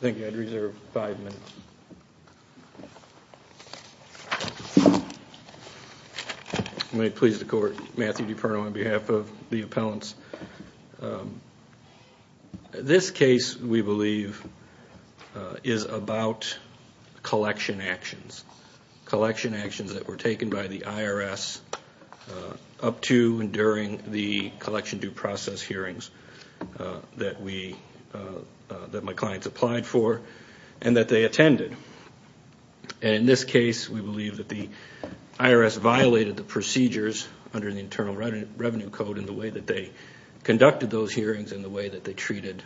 Thank you, I'd reserve five minutes. May it please the court, Matthew DiPerno on behalf of the appellants. This case, we believe, is about collection actions. Collection actions that were taken by the IRS up to and during the collection due process hearings that my clients applied for and that they attended. And in this case, we believe that the IRS violated the procedures under the Internal Revenue Code in the way that they conducted those hearings and the way that they treated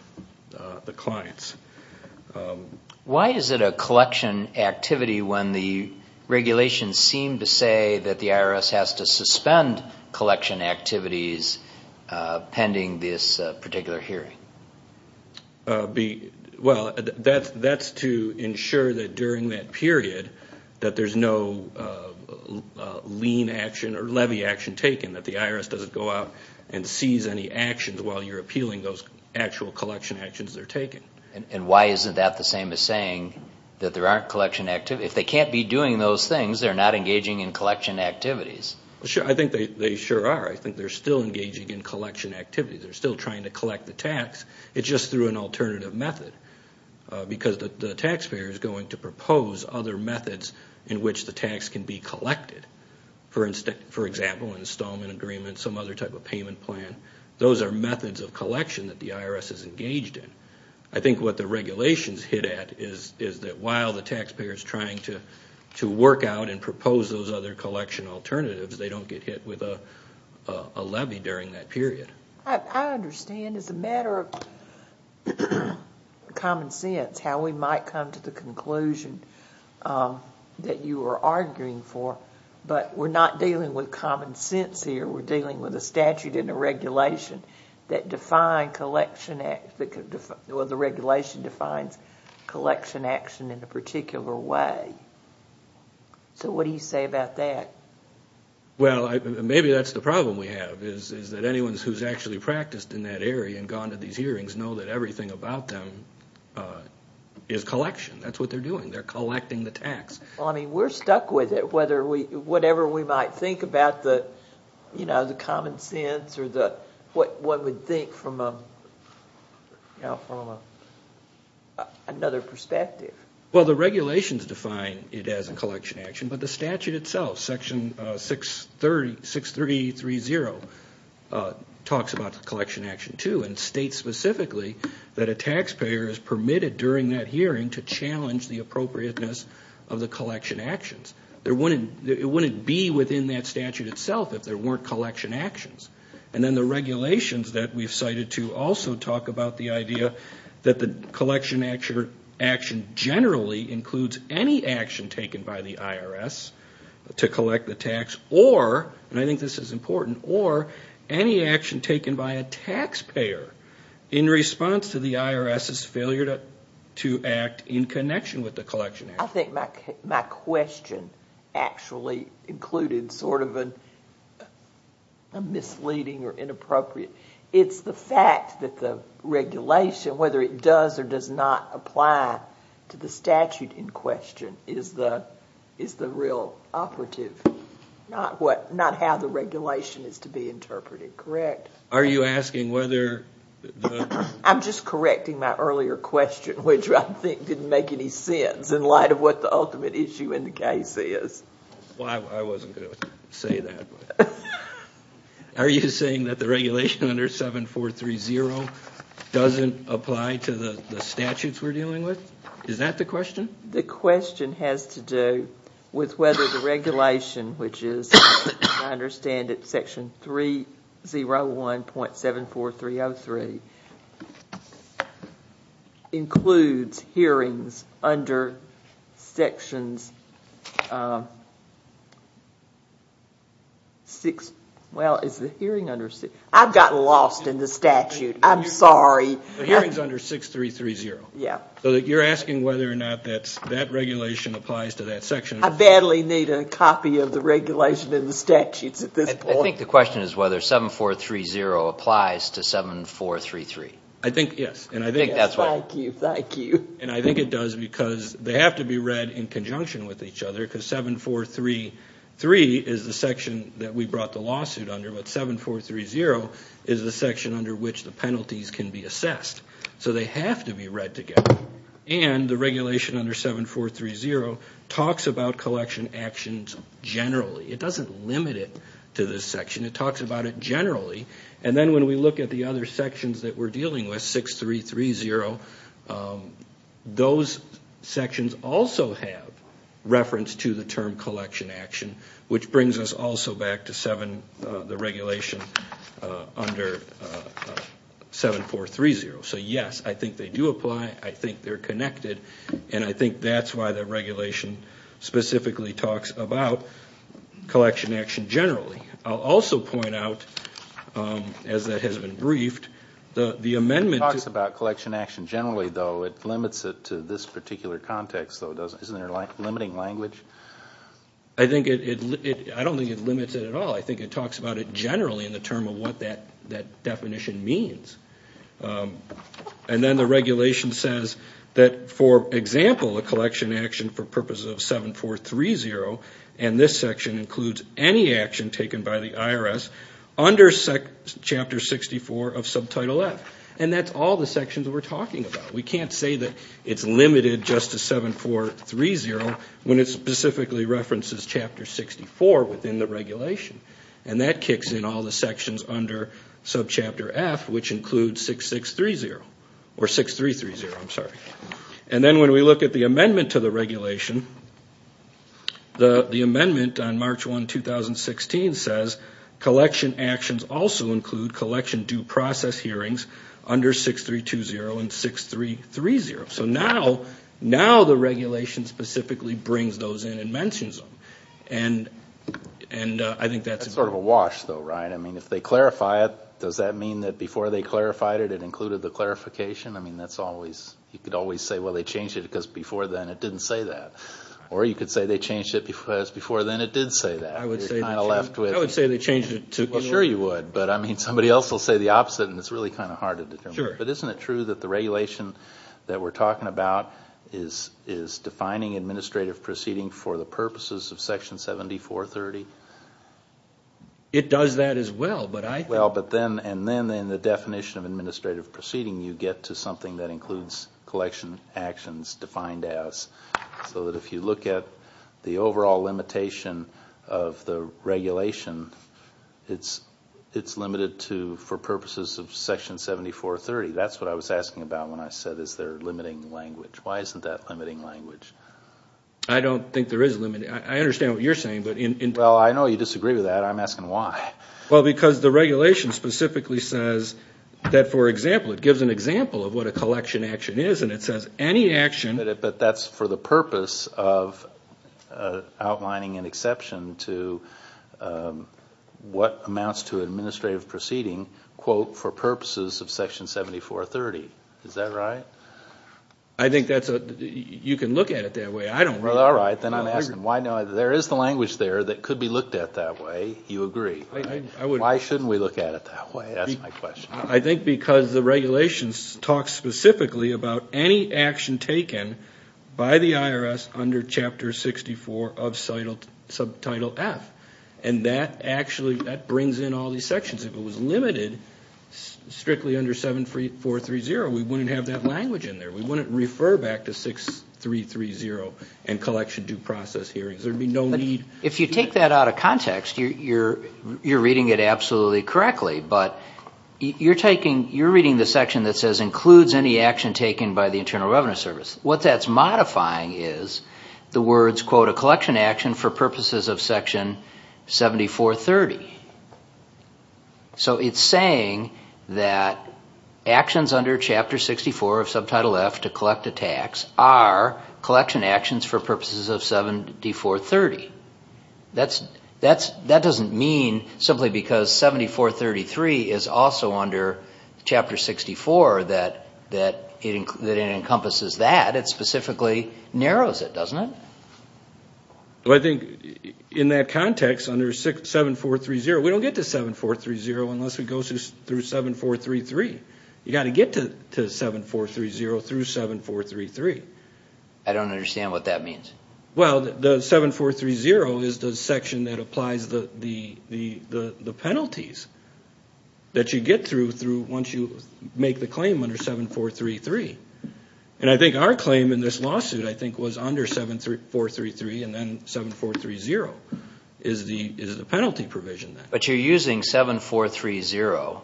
the clients. Why is it a collection activity when the regulations seem to say that the IRS has to suspend collection activities pending this particular hearing? Well, that's to ensure that during that period that there's no lien action or levy action taken, that the IRS doesn't go out and seize any actions while you're appealing those actual collection actions that are taken. And why isn't that the same as saying that there aren't collection activities? If they can't be doing those things, they're not engaging in collection activities. I think they sure are. I think they're still engaging in collection activities. They're still trying to collect the tax. It's just through an alternative method because the taxpayer is going to propose other methods in which the tax can be collected. For example, an installment agreement, some other type of payment plan. Those are methods of collection that the IRS is engaged in. I think what the regulations hit at is that while the taxpayer is trying to work out and propose those other collection alternatives, they don't get hit with a levy during that period. I understand as a matter of common sense how we might come to the conclusion that you are arguing for, but we're not dealing with common sense here. We're dealing with a statute and a regulation that define collection, or the regulation defines collection action in a particular way. So what do you say about that? Well, maybe that's the problem we have, is that anyone who's actually practiced in that area and gone to these hearings know that everything about them is collection. That's what they're doing. They're collecting the tax. Well, I mean, we're stuck with it, whatever we might think about the common sense or what one would think from another perspective. Well, the regulations define it as a collection action, but the statute itself, Section 6330, talks about collection action too and states specifically that a taxpayer is permitted during that hearing to challenge the appropriateness of the collection actions. It wouldn't be within that statute itself if there weren't collection actions. And then the regulations that we've cited too also talk about the idea that the collection action generally includes any action taken by the IRS to collect the tax or, and I think this is important, or any action taken by a taxpayer in response to the IRS's failure to act in connection with the collection action. I think my question actually included sort of a misleading or inappropriate, it's the fact that the regulation, whether it does or does not apply to the statute in question, is the real operative, not how the regulation is to be interpreted, correct? Are you asking whether the... I'm just correcting my earlier question, which I think didn't make any sense in light of what the ultimate issue in the case is. Well, I wasn't going to say that. Are you saying that the regulation under 7430 doesn't apply to the statutes we're dealing with? Is that the question? The question has to do with whether the regulation, which is, I understand it's section 301.74303, includes hearings under sections 6, well, is the hearing under... I've gotten lost in the statute. I'm sorry. The hearing's under 6330. Yeah. So you're asking whether or not that regulation applies to that section. I badly need a copy of the regulation in the statutes at this point. I think the question is whether 7430 applies to 7433. I think, yes. Thank you, thank you. And I think it does because they have to be read in conjunction with each other, because 7433 is the section that we brought the lawsuit under, but 7430 is the section under which the penalties can be assessed. So they have to be read together. And the regulation under 7430 talks about collection actions generally. It doesn't limit it to this section. It talks about it generally. And then when we look at the other sections that we're dealing with, 6330, those sections also have reference to the term collection action, which brings us also back to the regulation under 7430. So, yes, I think they do apply. I think they're connected. And I think that's why the regulation specifically talks about collection action generally. I'll also point out, as that has been briefed, the amendment to It talks about collection action generally, though. It limits it to this particular context, though, doesn't it? Isn't there limiting language? I don't think it limits it at all. I think it talks about it generally in the term of what that definition means. And then the regulation says that, for example, a collection action for purposes of 7430, and this section includes any action taken by the IRS under Chapter 64 of Subtitle F. And that's all the sections we're talking about. We can't say that it's limited just to 7430 when it specifically references Chapter 64 within the regulation. And that kicks in all the sections under Subchapter F, which include 6630 or 6330. I'm sorry. And then when we look at the amendment to the regulation, the amendment on March 1, 2016, says collection actions also include collection due process hearings under 6320 and 6330. So now the regulation specifically brings those in and mentions them. And I think that's important. That's sort of a wash, though, right? I mean, if they clarify it, does that mean that before they clarified it, it included the clarification? I mean, that's always – you could always say, well, they changed it because before then it didn't say that. Or you could say they changed it because before then it did say that. I would say that, too. You're kind of left with – I would say they changed it to – Well, sure you would. But, I mean, somebody else will say the opposite, and it's really kind of hard to determine. Sure. But isn't it true that the regulation that we're talking about is defining administrative proceeding for the purposes of Section 7430? It does that as well, but I think – Well, but then – and then in the definition of administrative proceeding, you get to something that includes collection actions defined as. So that if you look at the overall limitation of the regulation, it's limited to for purposes of Section 7430. That's what I was asking about when I said, is there limiting language? Why isn't that limiting language? I don't think there is a limit. I understand what you're saying, but in – Well, I know you disagree with that. I'm asking why. Well, because the regulation specifically says that, for example, it gives an example of what a collection action is, and it says any action – But that's for the purpose of outlining an exception to what amounts to administrative proceeding, quote, for purposes of Section 7430. Is that right? I think that's a – you can look at it that way. I don't know. Well, all right. Then I'm asking why. Now, there is the language there that could be looked at that way. You agree. I would – Why shouldn't we look at it that way? That's my question. I think because the regulations talk specifically about any action taken by the IRS under Chapter 64 of Subtitle F. And that actually – that brings in all these sections. If it was limited strictly under 7430, we wouldn't have that language in there. We wouldn't refer back to 6330 and collection due process hearings. There would be no need – You're taking – you're reading the section that says includes any action taken by the Internal Revenue Service. What that's modifying is the words, quote, a collection action for purposes of Section 7430. So it's saying that actions under Chapter 64 of Subtitle F to collect a tax are collection actions for purposes of 7430. That doesn't mean simply because 7433 is also under Chapter 64 that it encompasses that. It specifically narrows it, doesn't it? Well, I think in that context, under 7430, we don't get to 7430 unless we go through 7433. You've got to get to 7430 through 7433. I don't understand what that means. Well, the 7430 is the section that applies the penalties that you get through once you make the claim under 7433. And I think our claim in this lawsuit, I think, was under 7433 and then 7430 is the penalty provision. But you're using 7430,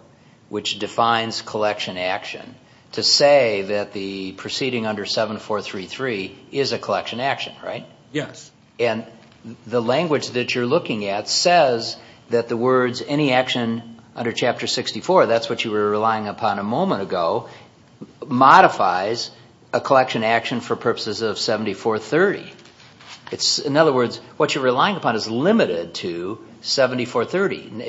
which defines collection action, to say that the proceeding under 7433 is a collection action, right? Yes. And the language that you're looking at says that the words any action under Chapter 64, that's what you were relying upon a moment ago, modifies a collection action for purposes of 7430. In other words, what you're relying upon is limited to 7430.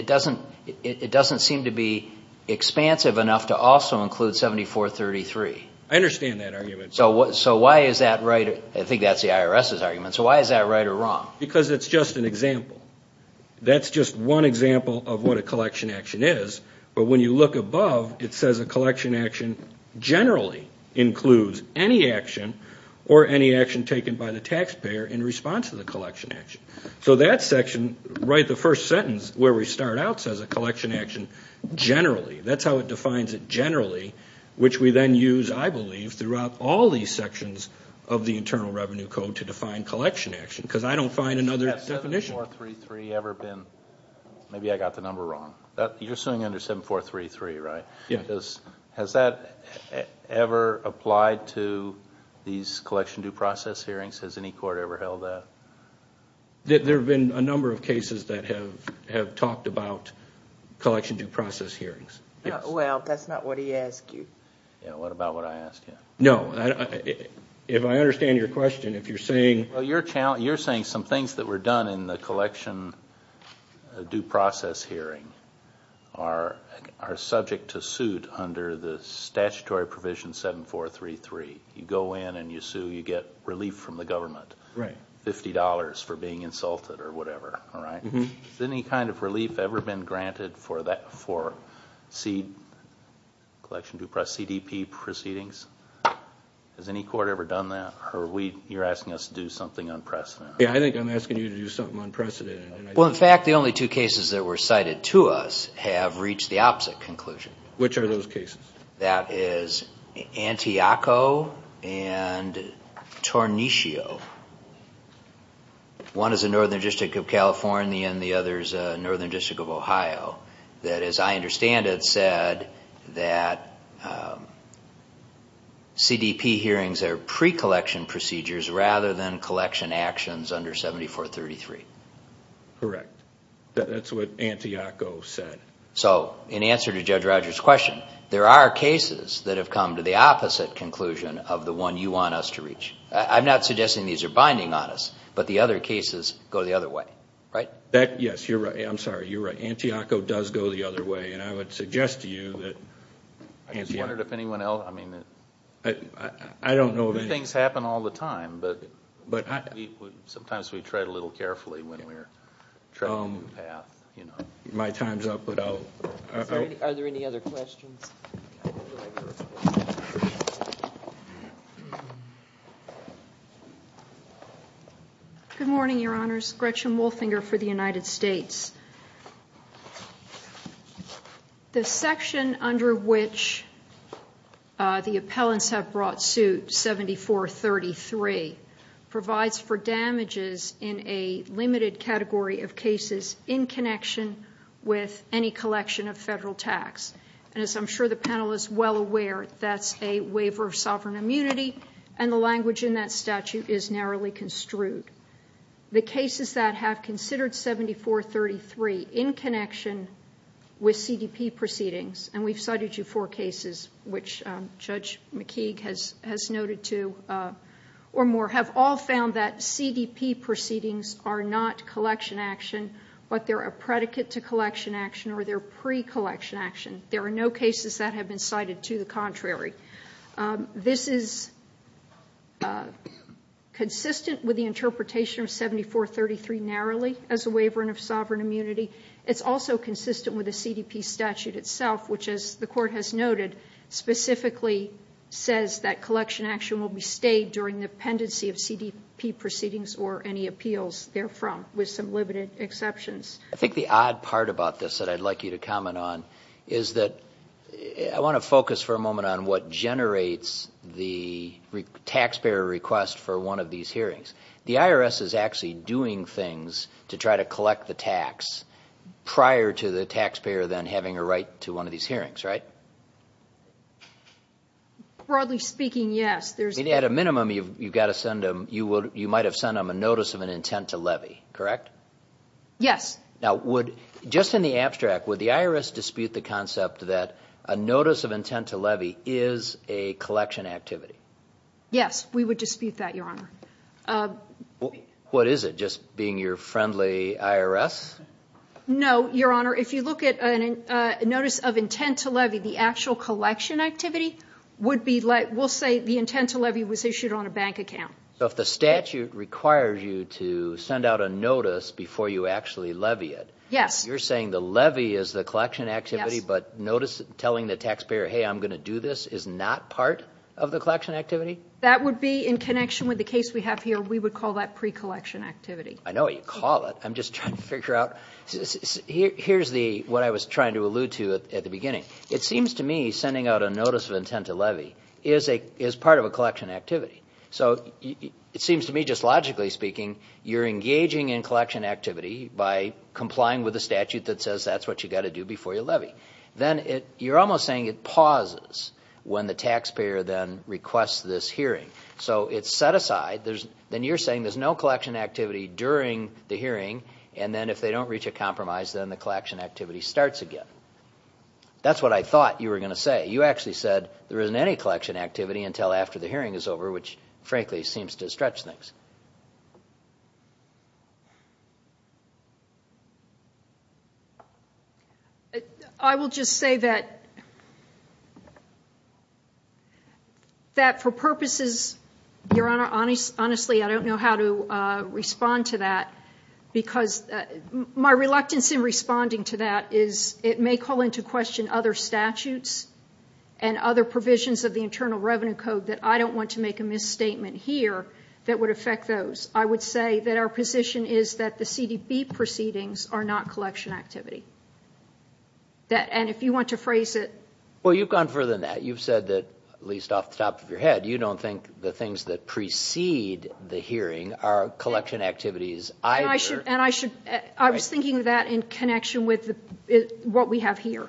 It doesn't seem to be expansive enough to also include 7433. I understand that argument. So why is that right? I think that's the IRS's argument. So why is that right or wrong? Because it's just an example. That's just one example of what a collection action is. But when you look above, it says a collection action generally includes any action or any action taken by the taxpayer in response to the collection action. So that section, right at the first sentence where we start out, says a collection action generally. That's how it defines it generally, which we then use, I believe, throughout all these sections of the Internal Revenue Code to define collection action. Because I don't find another definition. Has 7433 ever been – maybe I got the number wrong. You're suing under 7433, right? Yes. Has that ever applied to these collection due process hearings? Has any court ever held that? There have been a number of cases that have talked about collection due process hearings. Well, that's not what he asked you. What about what I asked you? No. If I understand your question, if you're saying – You're saying some things that were done in the collection due process hearing are subject to suit under the statutory provision 7433. You go in and you sue. You get relief from the government, $50 for being insulted or whatever. Has any kind of relief ever been granted for CDP proceedings? Has any court ever done that? You're asking us to do something unprecedented. Yeah, I think I'm asking you to do something unprecedented. Well, in fact, the only two cases that were cited to us have reached the opposite conclusion. Which are those cases? That is Antiocho and Torniccio. One is the Northern District of California and the other is the Northern District of Ohio. That, as I understand it, said that CDP hearings are pre-collection procedures rather than collection actions under 7433. Correct. That's what Antiocho said. So, in answer to Judge Rogers' question, there are cases that have come to the opposite conclusion of the one you want us to reach. I'm not suggesting these are binding on us, but the other cases go the other way, right? Yes. You're right. I'm sorry, you're right. Antiocho does go the other way, and I would suggest to you that... I just wondered if anyone else... I don't know of any... New things happen all the time, but sometimes we tread a little carefully when we're traveling the path. My time's up, but I'll... Are there any other questions? Good morning, Your Honors. Gretchen Wolfinger for the United States. The section under which the appellants have brought suit, 7433, provides for damages in a limited category of cases in connection with any collection of federal tax. And as I'm sure the panel is well aware, that's a waiver of sovereign immunity, and the language in that statute is narrowly construed. The cases that have considered 7433 in connection with CDP proceedings, and we've cited you four cases, which Judge McKeague has noted two or more, have all found that CDP proceedings are not collection action, but they're a predicate to collection action or they're pre-collection action. There are no cases that have been cited to the contrary. This is consistent with the interpretation of 7433 narrowly as a waiver of sovereign immunity. It's also consistent with the CDP statute itself, which, as the Court has noted, specifically says that collection action will be stayed during the pendency of CDP proceedings or any appeals therefrom, with some limited exceptions. I think the odd part about this that I'd like you to comment on is that I want to focus for a moment on what generates the taxpayer request for one of these hearings. The IRS is actually doing things to try to collect the tax prior to the taxpayer then having a right to one of these hearings, right? Broadly speaking, yes. At a minimum, you might have sent them a notice of an intent to levy, correct? Yes. Now, just in the abstract, would the IRS dispute the concept that a notice of intent to levy is a collection activity? Yes, we would dispute that, Your Honor. What is it, just being your friendly IRS? No, Your Honor. If you look at a notice of intent to levy, the actual collection activity would be like, we'll say the intent to levy was issued on a bank account. So if the statute requires you to send out a notice before you actually levy it. Yes. You're saying the levy is the collection activity, but notice telling the taxpayer, hey, I'm going to do this is not part of the collection activity? That would be in connection with the case we have here. We would call that pre-collection activity. I know what you call it. I'm just trying to figure out. Here's what I was trying to allude to at the beginning. It seems to me sending out a notice of intent to levy is part of a collection activity. So it seems to me, just logically speaking, you're engaging in collection activity by complying with the statute that says that's what you've got to do before you levy. Then you're almost saying it pauses when the taxpayer then requests this hearing. So it's set aside. Then you're saying there's no collection activity during the hearing, and then if they don't reach a compromise, then the collection activity starts again. That's what I thought you were going to say. You actually said there isn't any collection activity until after the hearing is over, which, frankly, seems to stretch things. I will just say that for purposes, Your Honor, honestly, I don't know how to respond to that. My reluctance in responding to that is it may call into question other statutes and other provisions of the Internal Revenue Code that I don't want to make a misstatement here that would affect those. I would say that our position is that the CDB proceedings are not collection activity. If you want to phrase it. Well, you've gone further than that. You've said that, at least off the top of your head, you don't think the things that precede the hearing are collection activities either. I was thinking of that in connection with what we have here.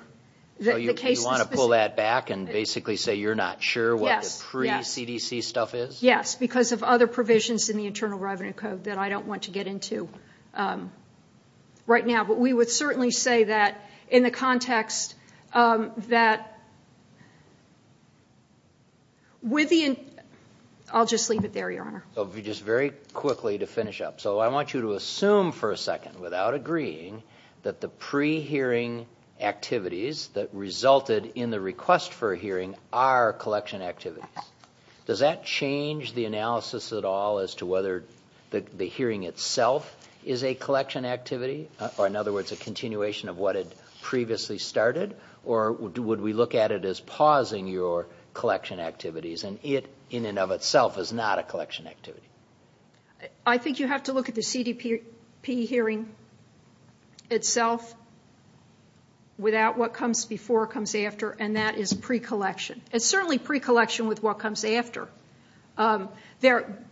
You want to pull that back and basically say you're not sure what the pre-CDC stuff is? Yes, because of other provisions in the Internal Revenue Code that I don't want to get into right now. But we would certainly say that in the context that with the – I'll just leave it there, Your Honor. Just very quickly to finish up. So I want you to assume for a second, without agreeing, that the pre-hearing activities that resulted in the request for a hearing are collection activities. Does that change the analysis at all as to whether the hearing itself is a collection activity? Or in other words, a continuation of what had previously started? Or would we look at it as pausing your collection activities and it, in and of itself, is not a collection activity? I think you have to look at the CDP hearing itself without what comes before, comes after, and that is pre-collection. It's certainly pre-collection with what comes after. Well,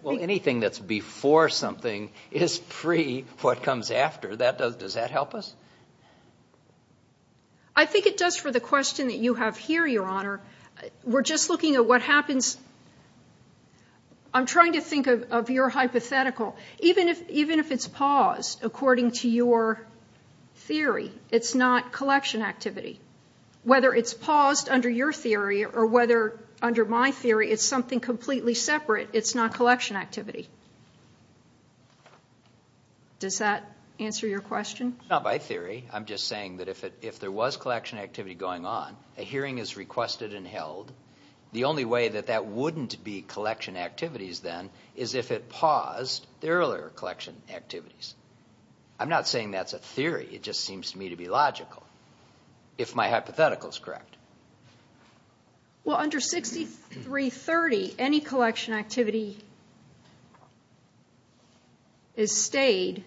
anything that's before something is pre-what comes after. Does that help us? I think it does for the question that you have here, Your Honor. We're just looking at what happens – I'm trying to think of your hypothetical. Even if it's paused according to your theory, it's not collection activity. Whether it's paused under your theory or whether under my theory it's something completely separate, it's not collection activity. Does that answer your question? Not by theory. I'm just saying that if there was collection activity going on, a hearing is requested and held. The only way that that wouldn't be collection activities then is if it paused the earlier collection activities. I'm not saying that's a theory. It just seems to me to be logical, if my hypothetical is correct. Well, under 6330, any collection activity is stayed,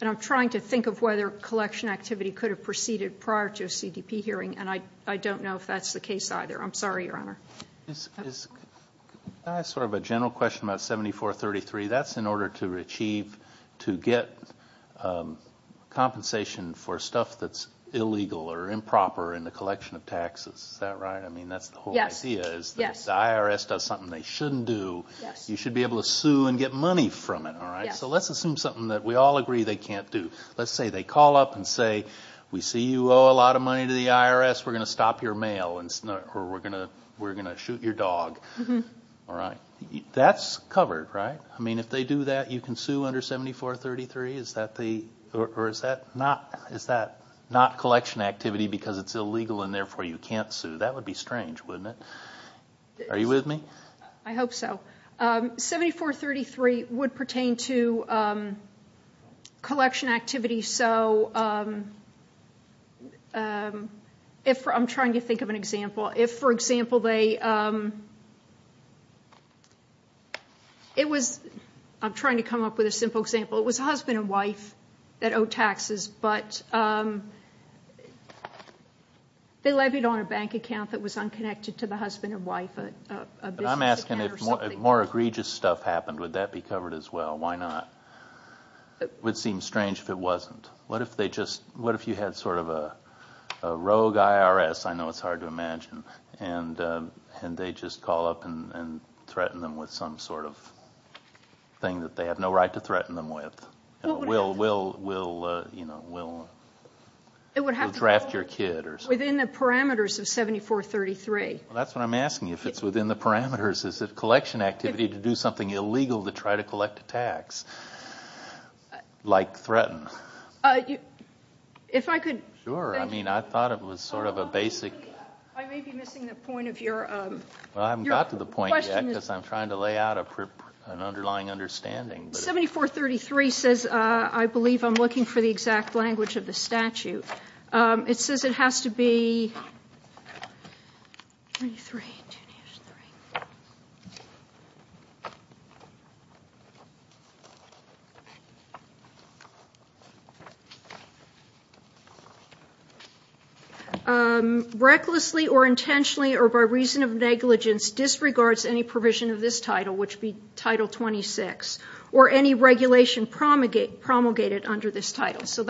and I'm trying to think of whether collection activity could have proceeded prior to a CDP hearing, and I don't know if that's the case either. I'm sorry, Your Honor. Can I ask sort of a general question about 7433? That's in order to achieve, to get compensation for stuff that's illegal or improper in the collection of taxes. Is that right? I mean, that's the whole idea. If the IRS does something they shouldn't do, you should be able to sue and get money from it. So let's assume something that we all agree they can't do. Let's say they call up and say, we see you owe a lot of money to the IRS, we're going to stop your mail, or we're going to shoot your dog. That's covered, right? I mean, if they do that, you can sue under 7433? Or is that not collection activity because it's illegal and therefore you can't sue? That would be strange, wouldn't it? Are you with me? I hope so. 7433 would pertain to collection activity. So I'm trying to think of an example. If, for example, they, it was, I'm trying to come up with a simple example. It was a husband and wife that owe taxes, but they levied on a bank account that was unconnected to the husband and wife. I'm asking if more egregious stuff happened, would that be covered as well? Why not? It would seem strange if it wasn't. What if they just, what if you had sort of a rogue IRS, I know it's hard to imagine, and they just call up and threaten them with some sort of thing that they have no right to threaten them with? We'll draft your kid or something. It would have to be within the parameters of 7433. That's what I'm asking, if it's within the parameters, to do something illegal to try to collect a tax, like threaten. Sure, I mean, I thought it was sort of a basic. I may be missing the point of your question. Well, I haven't got to the point yet because I'm trying to lay out an underlying understanding. 7433 says, I believe I'm looking for the exact language of the statute. It says it has to be, recklessly or intentionally or by reason of negligence disregards any provision of this title, which would be Title 26, or any regulation promulgated under this title. So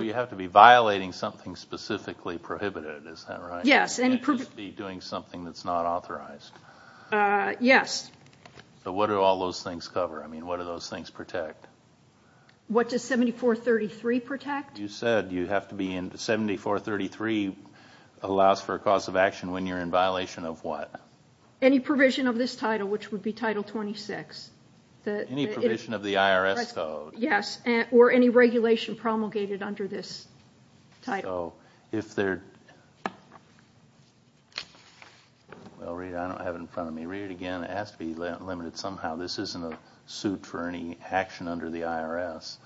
you have to be violating something specifically prohibited, is that right? Yes. You can't just be doing something that's not authorized. Yes. But what do all those things cover? I mean, what do those things protect? What does 7433 protect? You said you have to be in, 7433 allows for a cause of action when you're in violation of what? Any provision of this title, which would be Title 26. Any provision of the IRS code. Yes, or any regulation promulgated under this title. So, if there, well, Rita, I don't have it in front of me. Rita, again, it has to be limited somehow. This isn't a suit for any action under the IRS.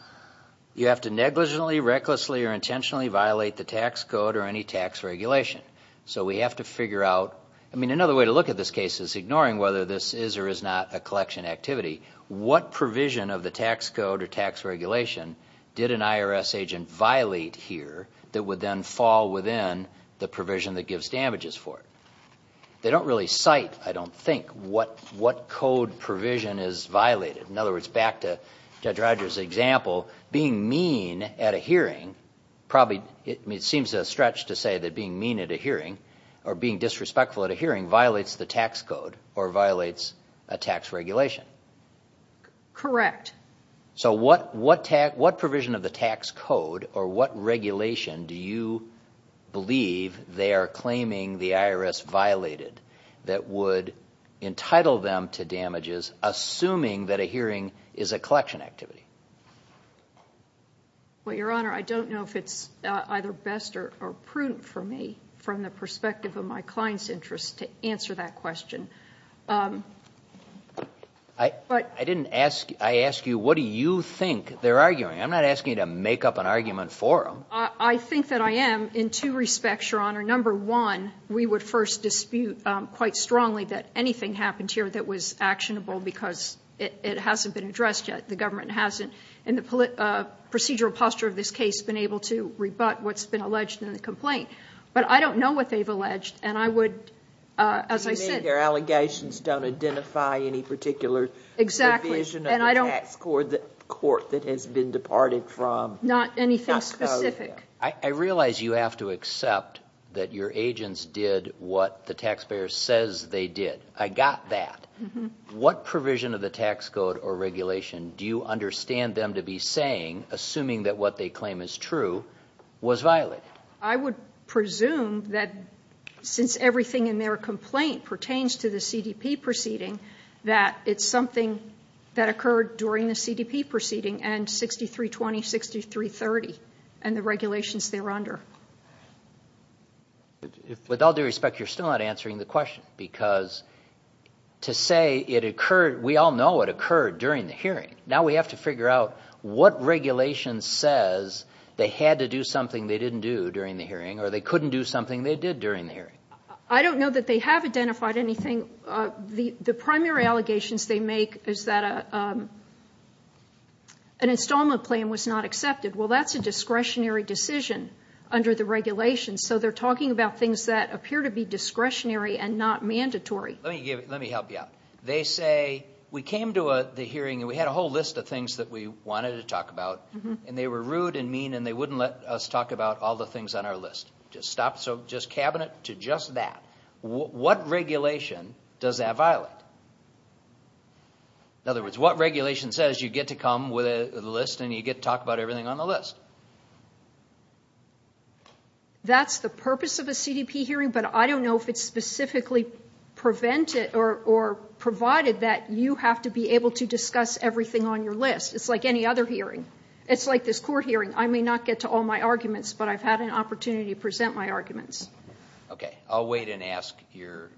You have to negligently, recklessly, or intentionally violate the tax code or any tax regulation. So we have to figure out, I mean, another way to look at this case is ignoring whether this is or is not a collection activity. What provision of the tax code or tax regulation did an IRS agent violate here that would then fall within the provision that gives damages for it? They don't really cite, I don't think, what code provision is violated. In other words, back to Judge Rogers' example, being mean at a hearing, probably, it seems a stretch to say that being mean at a hearing, or being disrespectful at a hearing violates the tax code or violates a tax regulation. Correct. So what provision of the tax code or what regulation do you believe they are claiming the IRS violated that would entitle them to damages assuming that a hearing is a collection activity? Well, Your Honor, I don't know if it's either best or prudent for me, from the perspective of my client's interest, to answer that question. I didn't ask you, I asked you what do you think they're arguing. I'm not asking you to make up an argument for them. I think that I am in two respects, Your Honor. Number one, we would first dispute quite strongly that anything happened here that was actionable because it hasn't been addressed yet. The government hasn't, in the procedural posture of this case, been able to rebut what's been alleged in the complaint. But I don't know what they've alleged, and I would, as I said— You mean their allegations don't identify any particular provision of the tax court that has been departed from? Not anything specific. I realize you have to accept that your agents did what the taxpayer says they did. I got that. What provision of the tax code or regulation do you understand them to be saying, assuming that what they claim is true, was violated? I would presume that since everything in their complaint pertains to the CDP proceeding, that it's something that occurred during the CDP proceeding and 6320, 6330, and the regulations thereunder. With all due respect, you're still not answering the question because to say it occurred—we all know it occurred during the hearing. Now we have to figure out what regulation says they had to do something they didn't do during the hearing or they couldn't do something they did during the hearing. I don't know that they have identified anything. The primary allegations they make is that an installment plan was not accepted. Well, that's a discretionary decision under the regulations, so they're talking about things that appear to be discretionary and not mandatory. Let me help you out. They say, we came to the hearing and we had a whole list of things that we wanted to talk about, and they were rude and mean and they wouldn't let us talk about all the things on our list. So just cabinet to just that. What regulation does that violate? In other words, what regulation says you get to come with a list and you get to talk about everything on the list? That's the purpose of a CDP hearing, but I don't know if it's specifically provided that you have to be able to discuss everything on your list. It's like any other hearing. It's like this court hearing. I may not get to all my arguments, but I've had an opportunity to present my arguments. Okay. I'll wait and ask your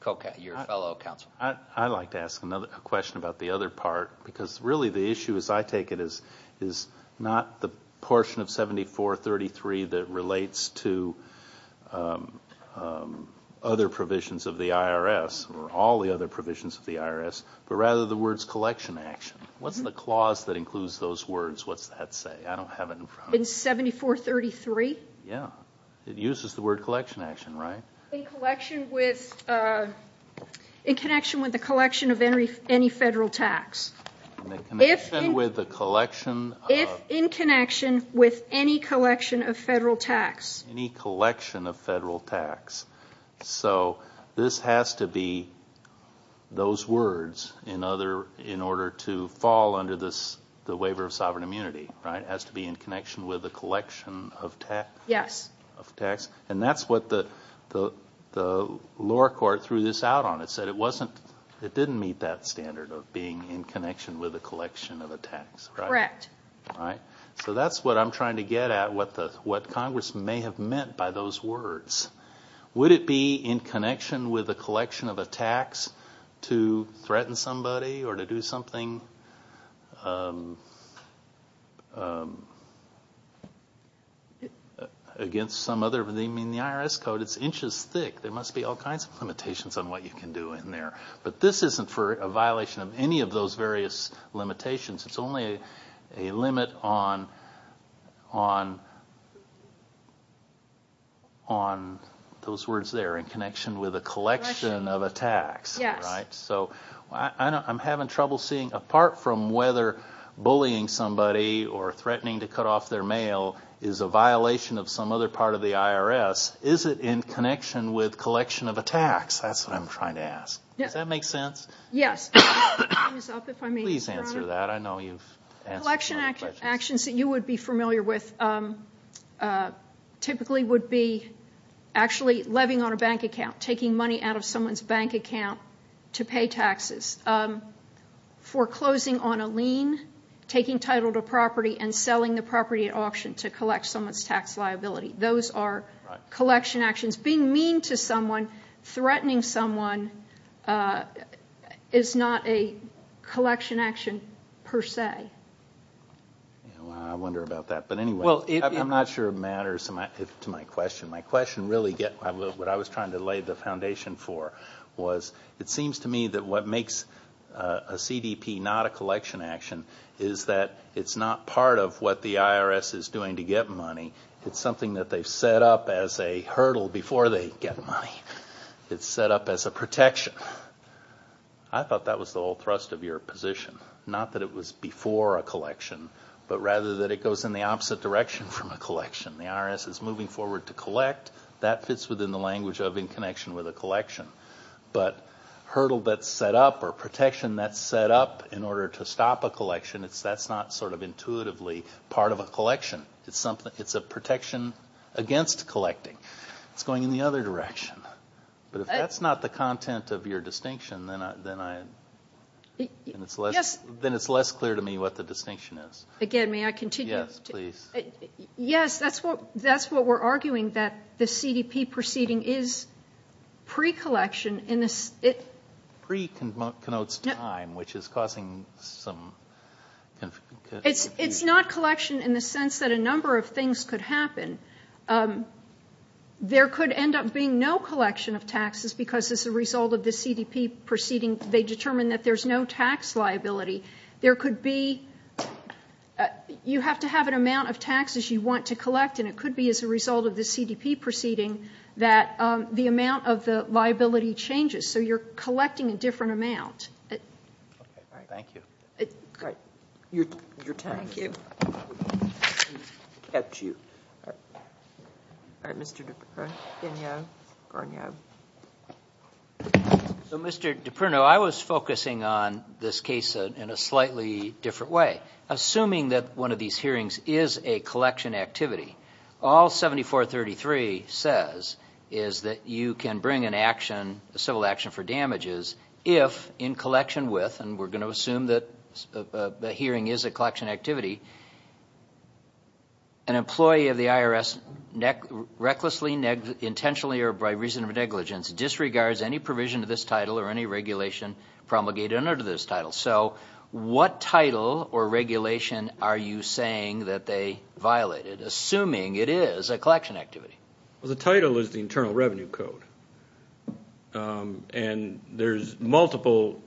fellow counsel. I'd like to ask a question about the other part because really the issue, as I take it, is not the portion of 7433 that relates to other provisions of the IRS or all the other provisions of the IRS, but rather the words collection action. What's the clause that includes those words? What's that say? I don't have it in front of me. In 7433? Yeah. It uses the word collection action, right? In connection with the collection of any federal tax. In connection with the collection of... If in connection with any collection of federal tax. Any collection of federal tax. So this has to be those words in order to fall under the waiver of sovereign immunity, right? It has to be in connection with the collection of tax? Yes. And that's what the lower court threw this out on. It said it didn't meet that standard of being in connection with the collection of a tax, right? Correct. All right. So that's what I'm trying to get at, what Congress may have meant by those words. Would it be in connection with the collection of a tax to threaten somebody or to do something against some other... I mean, the IRS code, it's inches thick. There must be all kinds of limitations on what you can do in there. But this isn't for a violation of any of those various limitations. It's only a limit on those words there, in connection with a collection of a tax. Yes. Right? So I'm having trouble seeing, apart from whether bullying somebody or threatening to cut off their mail is a violation of some other part of the IRS, is it in connection with collection of a tax? That's what I'm trying to ask. Does that make sense? Yes. Please answer that. I know you've answered some of the questions. Collection actions that you would be familiar with typically would be actually levying on a bank account, taking money out of someone's bank account to pay taxes, foreclosing on a lien, taking title to property, and selling the property at auction to collect someone's tax liability. Those are collection actions. Being mean to someone, threatening someone, is not a collection action per se. I wonder about that. But anyway, I'm not sure it matters to my question. What I was trying to lay the foundation for was it seems to me that what makes a CDP not a collection action is that it's not part of what the IRS is doing to get money. It's something that they've set up as a hurdle before they get money. It's set up as a protection. I thought that was the whole thrust of your position. Not that it was before a collection, but rather that it goes in the opposite direction from a collection. The IRS is moving forward to collect. That fits within the language of in connection with a collection. But hurdle that's set up or protection that's set up in order to stop a collection, that's not sort of intuitively part of a collection. It's a protection against collecting. It's going in the other direction. But if that's not the content of your distinction, then it's less clear to me what the distinction is. Again, may I continue? Yes, please. Yes, that's what we're arguing, that the CDP proceeding is pre-collection. Pre connotes time, which is causing some confusion. It's not collection in the sense that a number of things could happen. There could end up being no collection of taxes because as a result of the CDP proceeding, they determined that there's no tax liability. There could be you have to have an amount of taxes you want to collect, and it could be as a result of the CDP proceeding that the amount of the liability changes. So you're collecting a different amount. Thank you. All right. Your turn. Thank you. At you. Mr. DiPerno. Gagnon. Garnon. So, Mr. DiPerno, I was focusing on this case in a slightly different way, assuming that one of these hearings is a collection activity. All 7433 says is that you can bring an action, a civil action for damages, if in collection with, and we're going to assume that the hearing is a collection activity, an employee of the IRS recklessly, intentionally, or by reason of negligence disregards any provision of this title or any regulation promulgated under this title. So what title or regulation are you saying that they violated, assuming it is a collection activity? Well, the title is the Internal Revenue Code. And there's multiple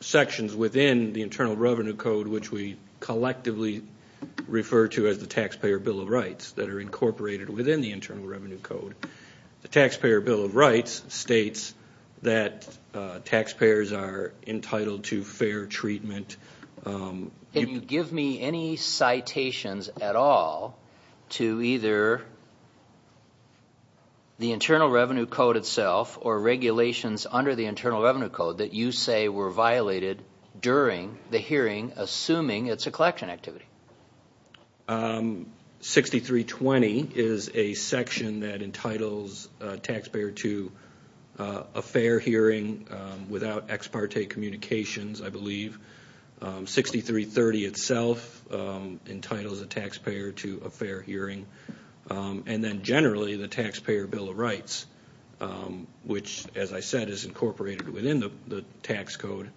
sections within the Internal Revenue Code, which we collectively refer to as the Taxpayer Bill of Rights, that are incorporated within the Internal Revenue Code. The Taxpayer Bill of Rights states that taxpayers are entitled to fair treatment. Can you give me any citations at all to either the Internal Revenue Code itself or regulations under the Internal Revenue Code that you say were violated during the hearing, assuming it's a collection activity? 6320 is a section that entitles a taxpayer to a fair hearing without ex parte communications, I believe. 6330 itself entitles a taxpayer to a fair hearing. And then generally the Taxpayer Bill of Rights, which, as I said, is incorporated within the tax code.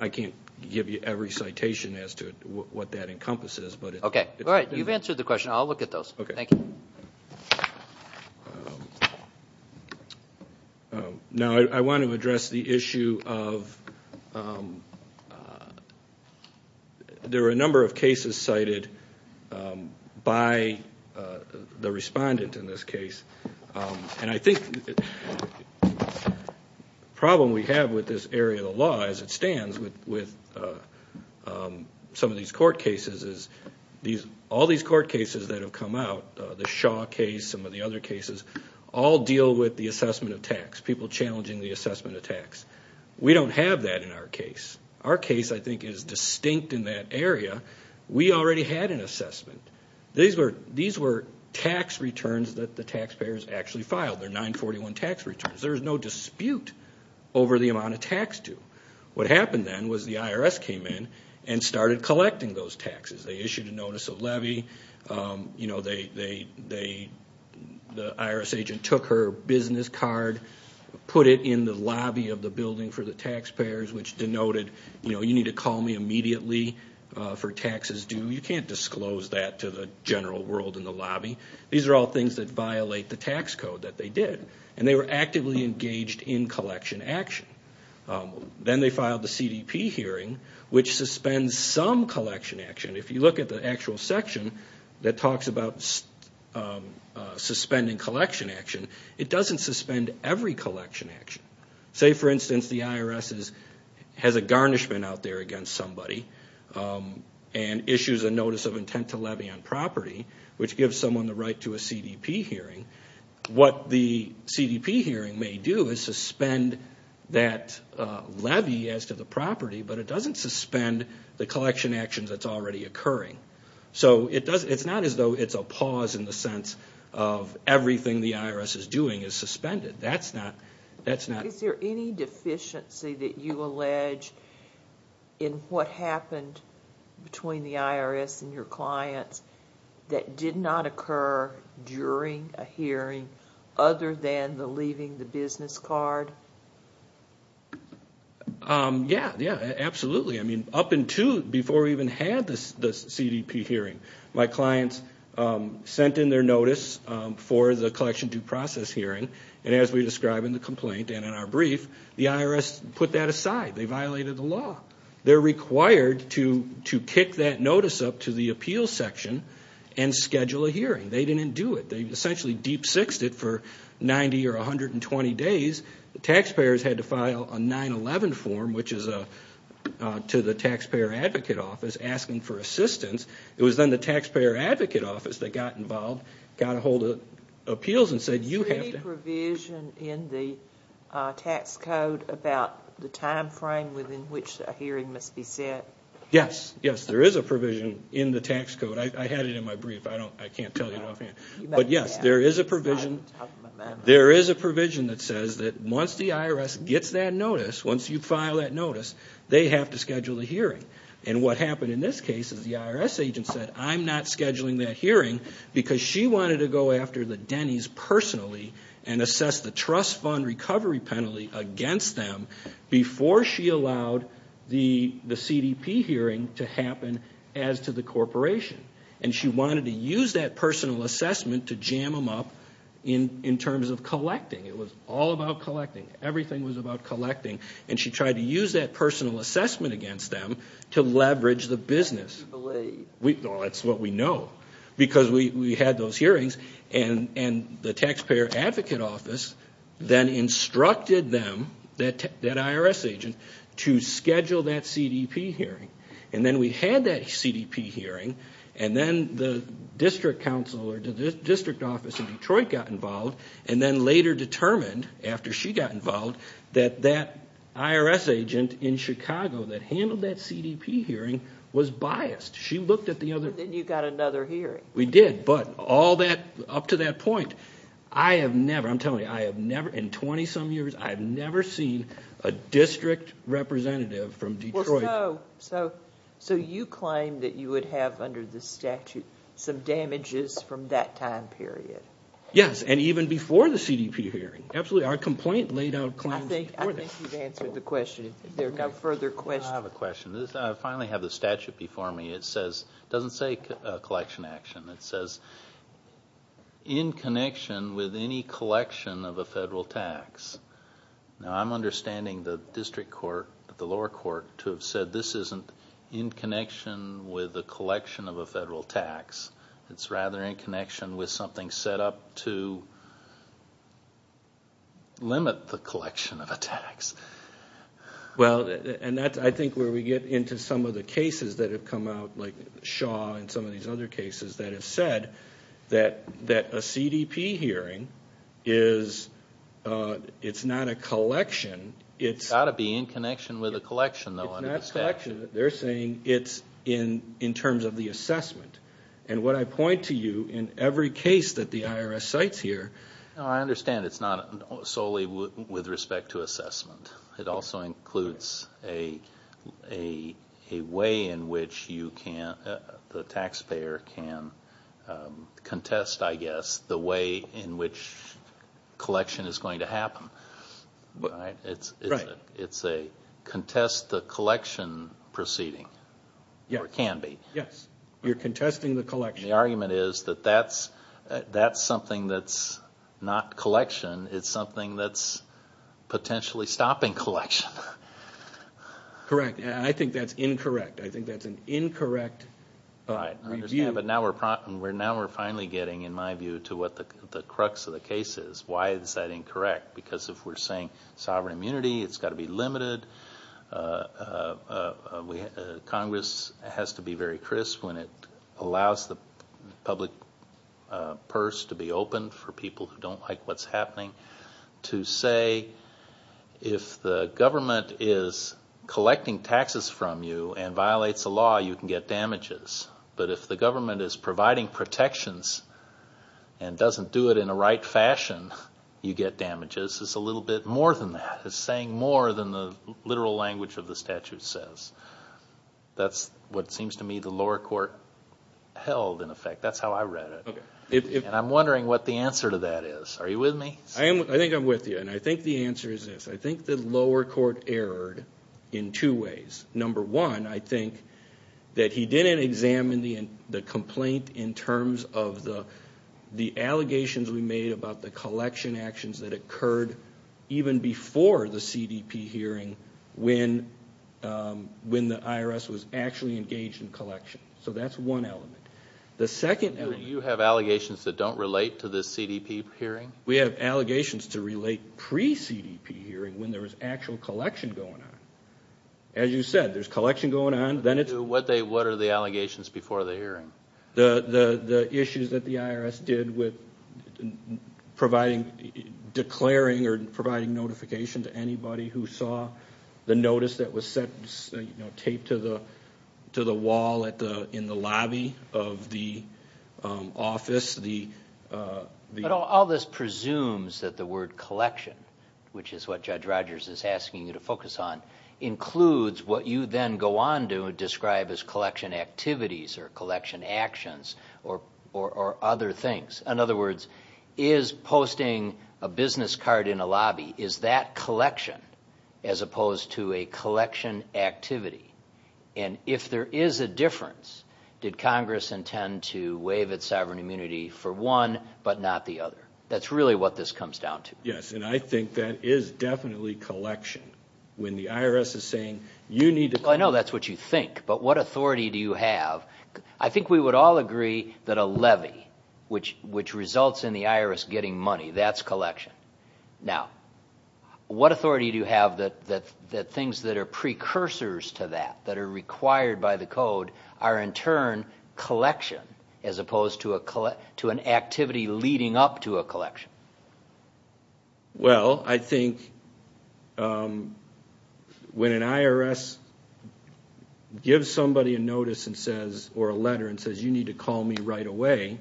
I can't give you every citation as to what that encompasses. Okay. All right. You've answered the question. I'll look at those. Thank you. Now I want to address the issue of there are a number of cases cited by the respondent in this case. And I think the problem we have with this area of the law, as it stands, with some of these court cases is all these court cases that have come out, the Shaw case, some of the other cases, all deal with the assessment of tax, people challenging the assessment of tax. We don't have that in our case. Our case, I think, is distinct in that area. We already had an assessment. These were tax returns that the taxpayers actually filed. They're 941 tax returns. There's no dispute over the amount of tax due. What happened then was the IRS came in and started collecting those taxes. They issued a notice of levy. The IRS agent took her business card, put it in the lobby of the building for the taxpayers, which denoted, you need to call me immediately for taxes due. You can't disclose that to the general world in the lobby. These are all things that violate the tax code that they did. And they were actively engaged in collection action. Then they filed the CDP hearing, which suspends some collection action. If you look at the actual section that talks about suspending collection action, it doesn't suspend every collection action. Say, for instance, the IRS has a garnishment out there against somebody and issues a notice of intent to levy on property, which gives someone the right to a CDP hearing. What the CDP hearing may do is suspend that levy as to the property, but it doesn't suspend the collection action that's already occurring. So it's not as though it's a pause in the sense of everything the IRS is doing is suspended. That's not... Is there any deficiency that you allege in what happened between the IRS and your clients that did not occur during a hearing other than the leaving the business card? Yeah, absolutely. I mean, up until before we even had the CDP hearing, my clients sent in their notice for the collection due process hearing, and as we describe in the complaint and in our brief, the IRS put that aside. They violated the law. They're required to kick that notice up to the appeals section and schedule a hearing. They didn't do it. They essentially deep-sixed it for 90 or 120 days. The taxpayers had to file a 9-11 form, which is to the Taxpayer Advocate Office, asking for assistance. It was then the Taxpayer Advocate Office that got involved, got a hold of appeals and said, you have to... Yes. Yes, there is a provision in the tax code. I had it in my brief. I can't tell you offhand. But yes, there is a provision that says that once the IRS gets that notice, once you file that notice, they have to schedule a hearing. And what happened in this case is the IRS agent said, I'm not scheduling that hearing because she wanted to go after the Denny's personally and assess the trust fund recovery penalty against them before she allowed the CDP hearing to happen as to the corporation. And she wanted to use that personal assessment to jam them up in terms of collecting. It was all about collecting. Everything was about collecting. And she tried to use that personal assessment against them to leverage the business. Well, that's what we know because we had those hearings and the Taxpayer Advocate Office then instructed them, that IRS agent, to schedule that CDP hearing. And then we had that CDP hearing, and then the district council or the district office in Detroit got involved and then later determined, after she got involved, that that IRS agent in Chicago that handled that CDP hearing was biased. She looked at the other... And then you got another hearing. We did, but up to that point, I have never, I'm telling you, I have never in 20-some years, I have never seen a district representative from Detroit... So you claim that you would have under the statute some damages from that time period. Yes, and even before the CDP hearing. Absolutely. Our complaint laid out claims before that. I think you've answered the question. If there are no further questions... I have a question. I finally have the statute before me. It doesn't say collection action. It says, in connection with any collection of a federal tax. Now, I'm understanding the district court, the lower court, to have said this isn't in connection with the collection of a federal tax. It's rather in connection with something set up to limit the collection of a tax. Well, and that's, I think, where we get into some of the cases that have come out, like Shaw and some of these other cases that have said that a CDP hearing is, it's not a collection, it's... It's got to be in connection with a collection, though. It's not a collection. They're saying it's in terms of the assessment. And what I point to you, in every case that the IRS cites here... I understand it's not solely with respect to assessment. It also includes a way in which the taxpayer can contest, I guess, the way in which collection is going to happen. It's a contest the collection proceeding, or can be. Yes. You're contesting the collection. And the argument is that that's something that's not collection. It's something that's potentially stopping collection. Correct. And I think that's incorrect. I think that's an incorrect review. I understand, but now we're finally getting, in my view, to what the crux of the case is. Why is that incorrect? Because if we're saying sovereign immunity, it's got to be limited, Congress has to be very crisp when it allows the public purse to be open for people who don't like what's happening, to say if the government is collecting taxes from you and violates the law, you can get damages. But if the government is providing protections and doesn't do it in a right fashion, you get damages. It's a little bit more than that. It's saying more than the literal language of the statute says. That's what seems to me the lower court held, in effect. That's how I read it. And I'm wondering what the answer to that is. Are you with me? I think I'm with you, and I think the answer is this. I think the lower court erred in two ways. Number one, I think that he didn't examine the complaint in terms of the before the CDP hearing when the IRS was actually engaged in collection. So that's one element. Do you have allegations that don't relate to the CDP hearing? We have allegations to relate pre-CDP hearing when there was actual collection going on. As you said, there's collection going on. What are the allegations before the hearing? The issues that the IRS did with declaring or providing notification to anybody who saw the notice that was taped to the wall in the lobby of the office? All this presumes that the word collection, which is what Judge Rogers is asking you to focus on, includes what you then go on to describe as collection activities or collection actions or other things. In other words, is posting a business card in a lobby, is that collection as opposed to a collection activity? And if there is a difference, did Congress intend to waive its sovereign immunity for one but not the other? That's really what this comes down to. Yes, and I think that is definitely collection. When the IRS is saying you need to collect. I know that's what you think, but what authority do you have? I think we would all agree that a levy, which results in the IRS getting money, that's collection. Now, what authority do you have that things that are precursors to that, that are required by the code, are in turn collection as opposed to an activity leading up to a collection? Well, I think when an IRS gives somebody a notice or a letter and says you need to call me right away,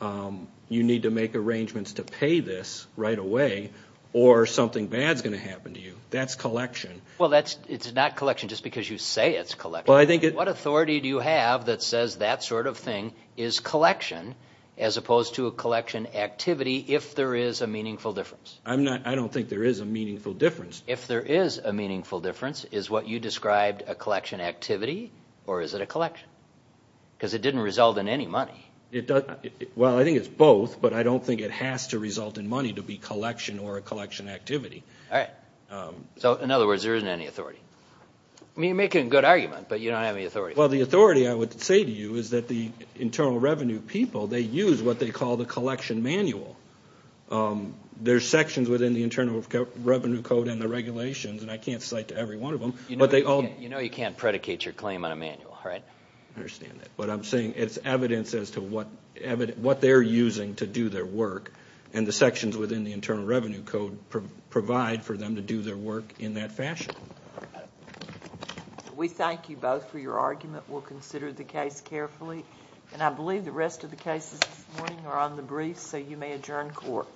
you need to make arrangements to pay this right away, or something bad is going to happen to you, that's collection. Well, it's not collection just because you say it's collection. What authority do you have that says that sort of thing is collection as opposed to a collection activity if there is a meaningful difference? I don't think there is a meaningful difference. If there is a meaningful difference, is what you described a collection activity or is it a collection? Because it didn't result in any money. Well, I think it's both, but I don't think it has to result in money to be collection or a collection activity. All right. So, in other words, there isn't any authority. You're making a good argument, but you don't have any authority. Well, the authority I would say to you is that the internal revenue people, they use what they call the collection manual. There are sections within the Internal Revenue Code and the regulations, and I can't cite to every one of them. You know you can't predicate your claim on a manual, right? I understand that. But I'm saying it's evidence as to what they're using to do their work, and the sections within the Internal Revenue Code provide for them to do their work in that fashion. We thank you both for your argument. We'll consider the case carefully, and I believe the rest of the cases this morning are on the briefs, so you may adjourn court.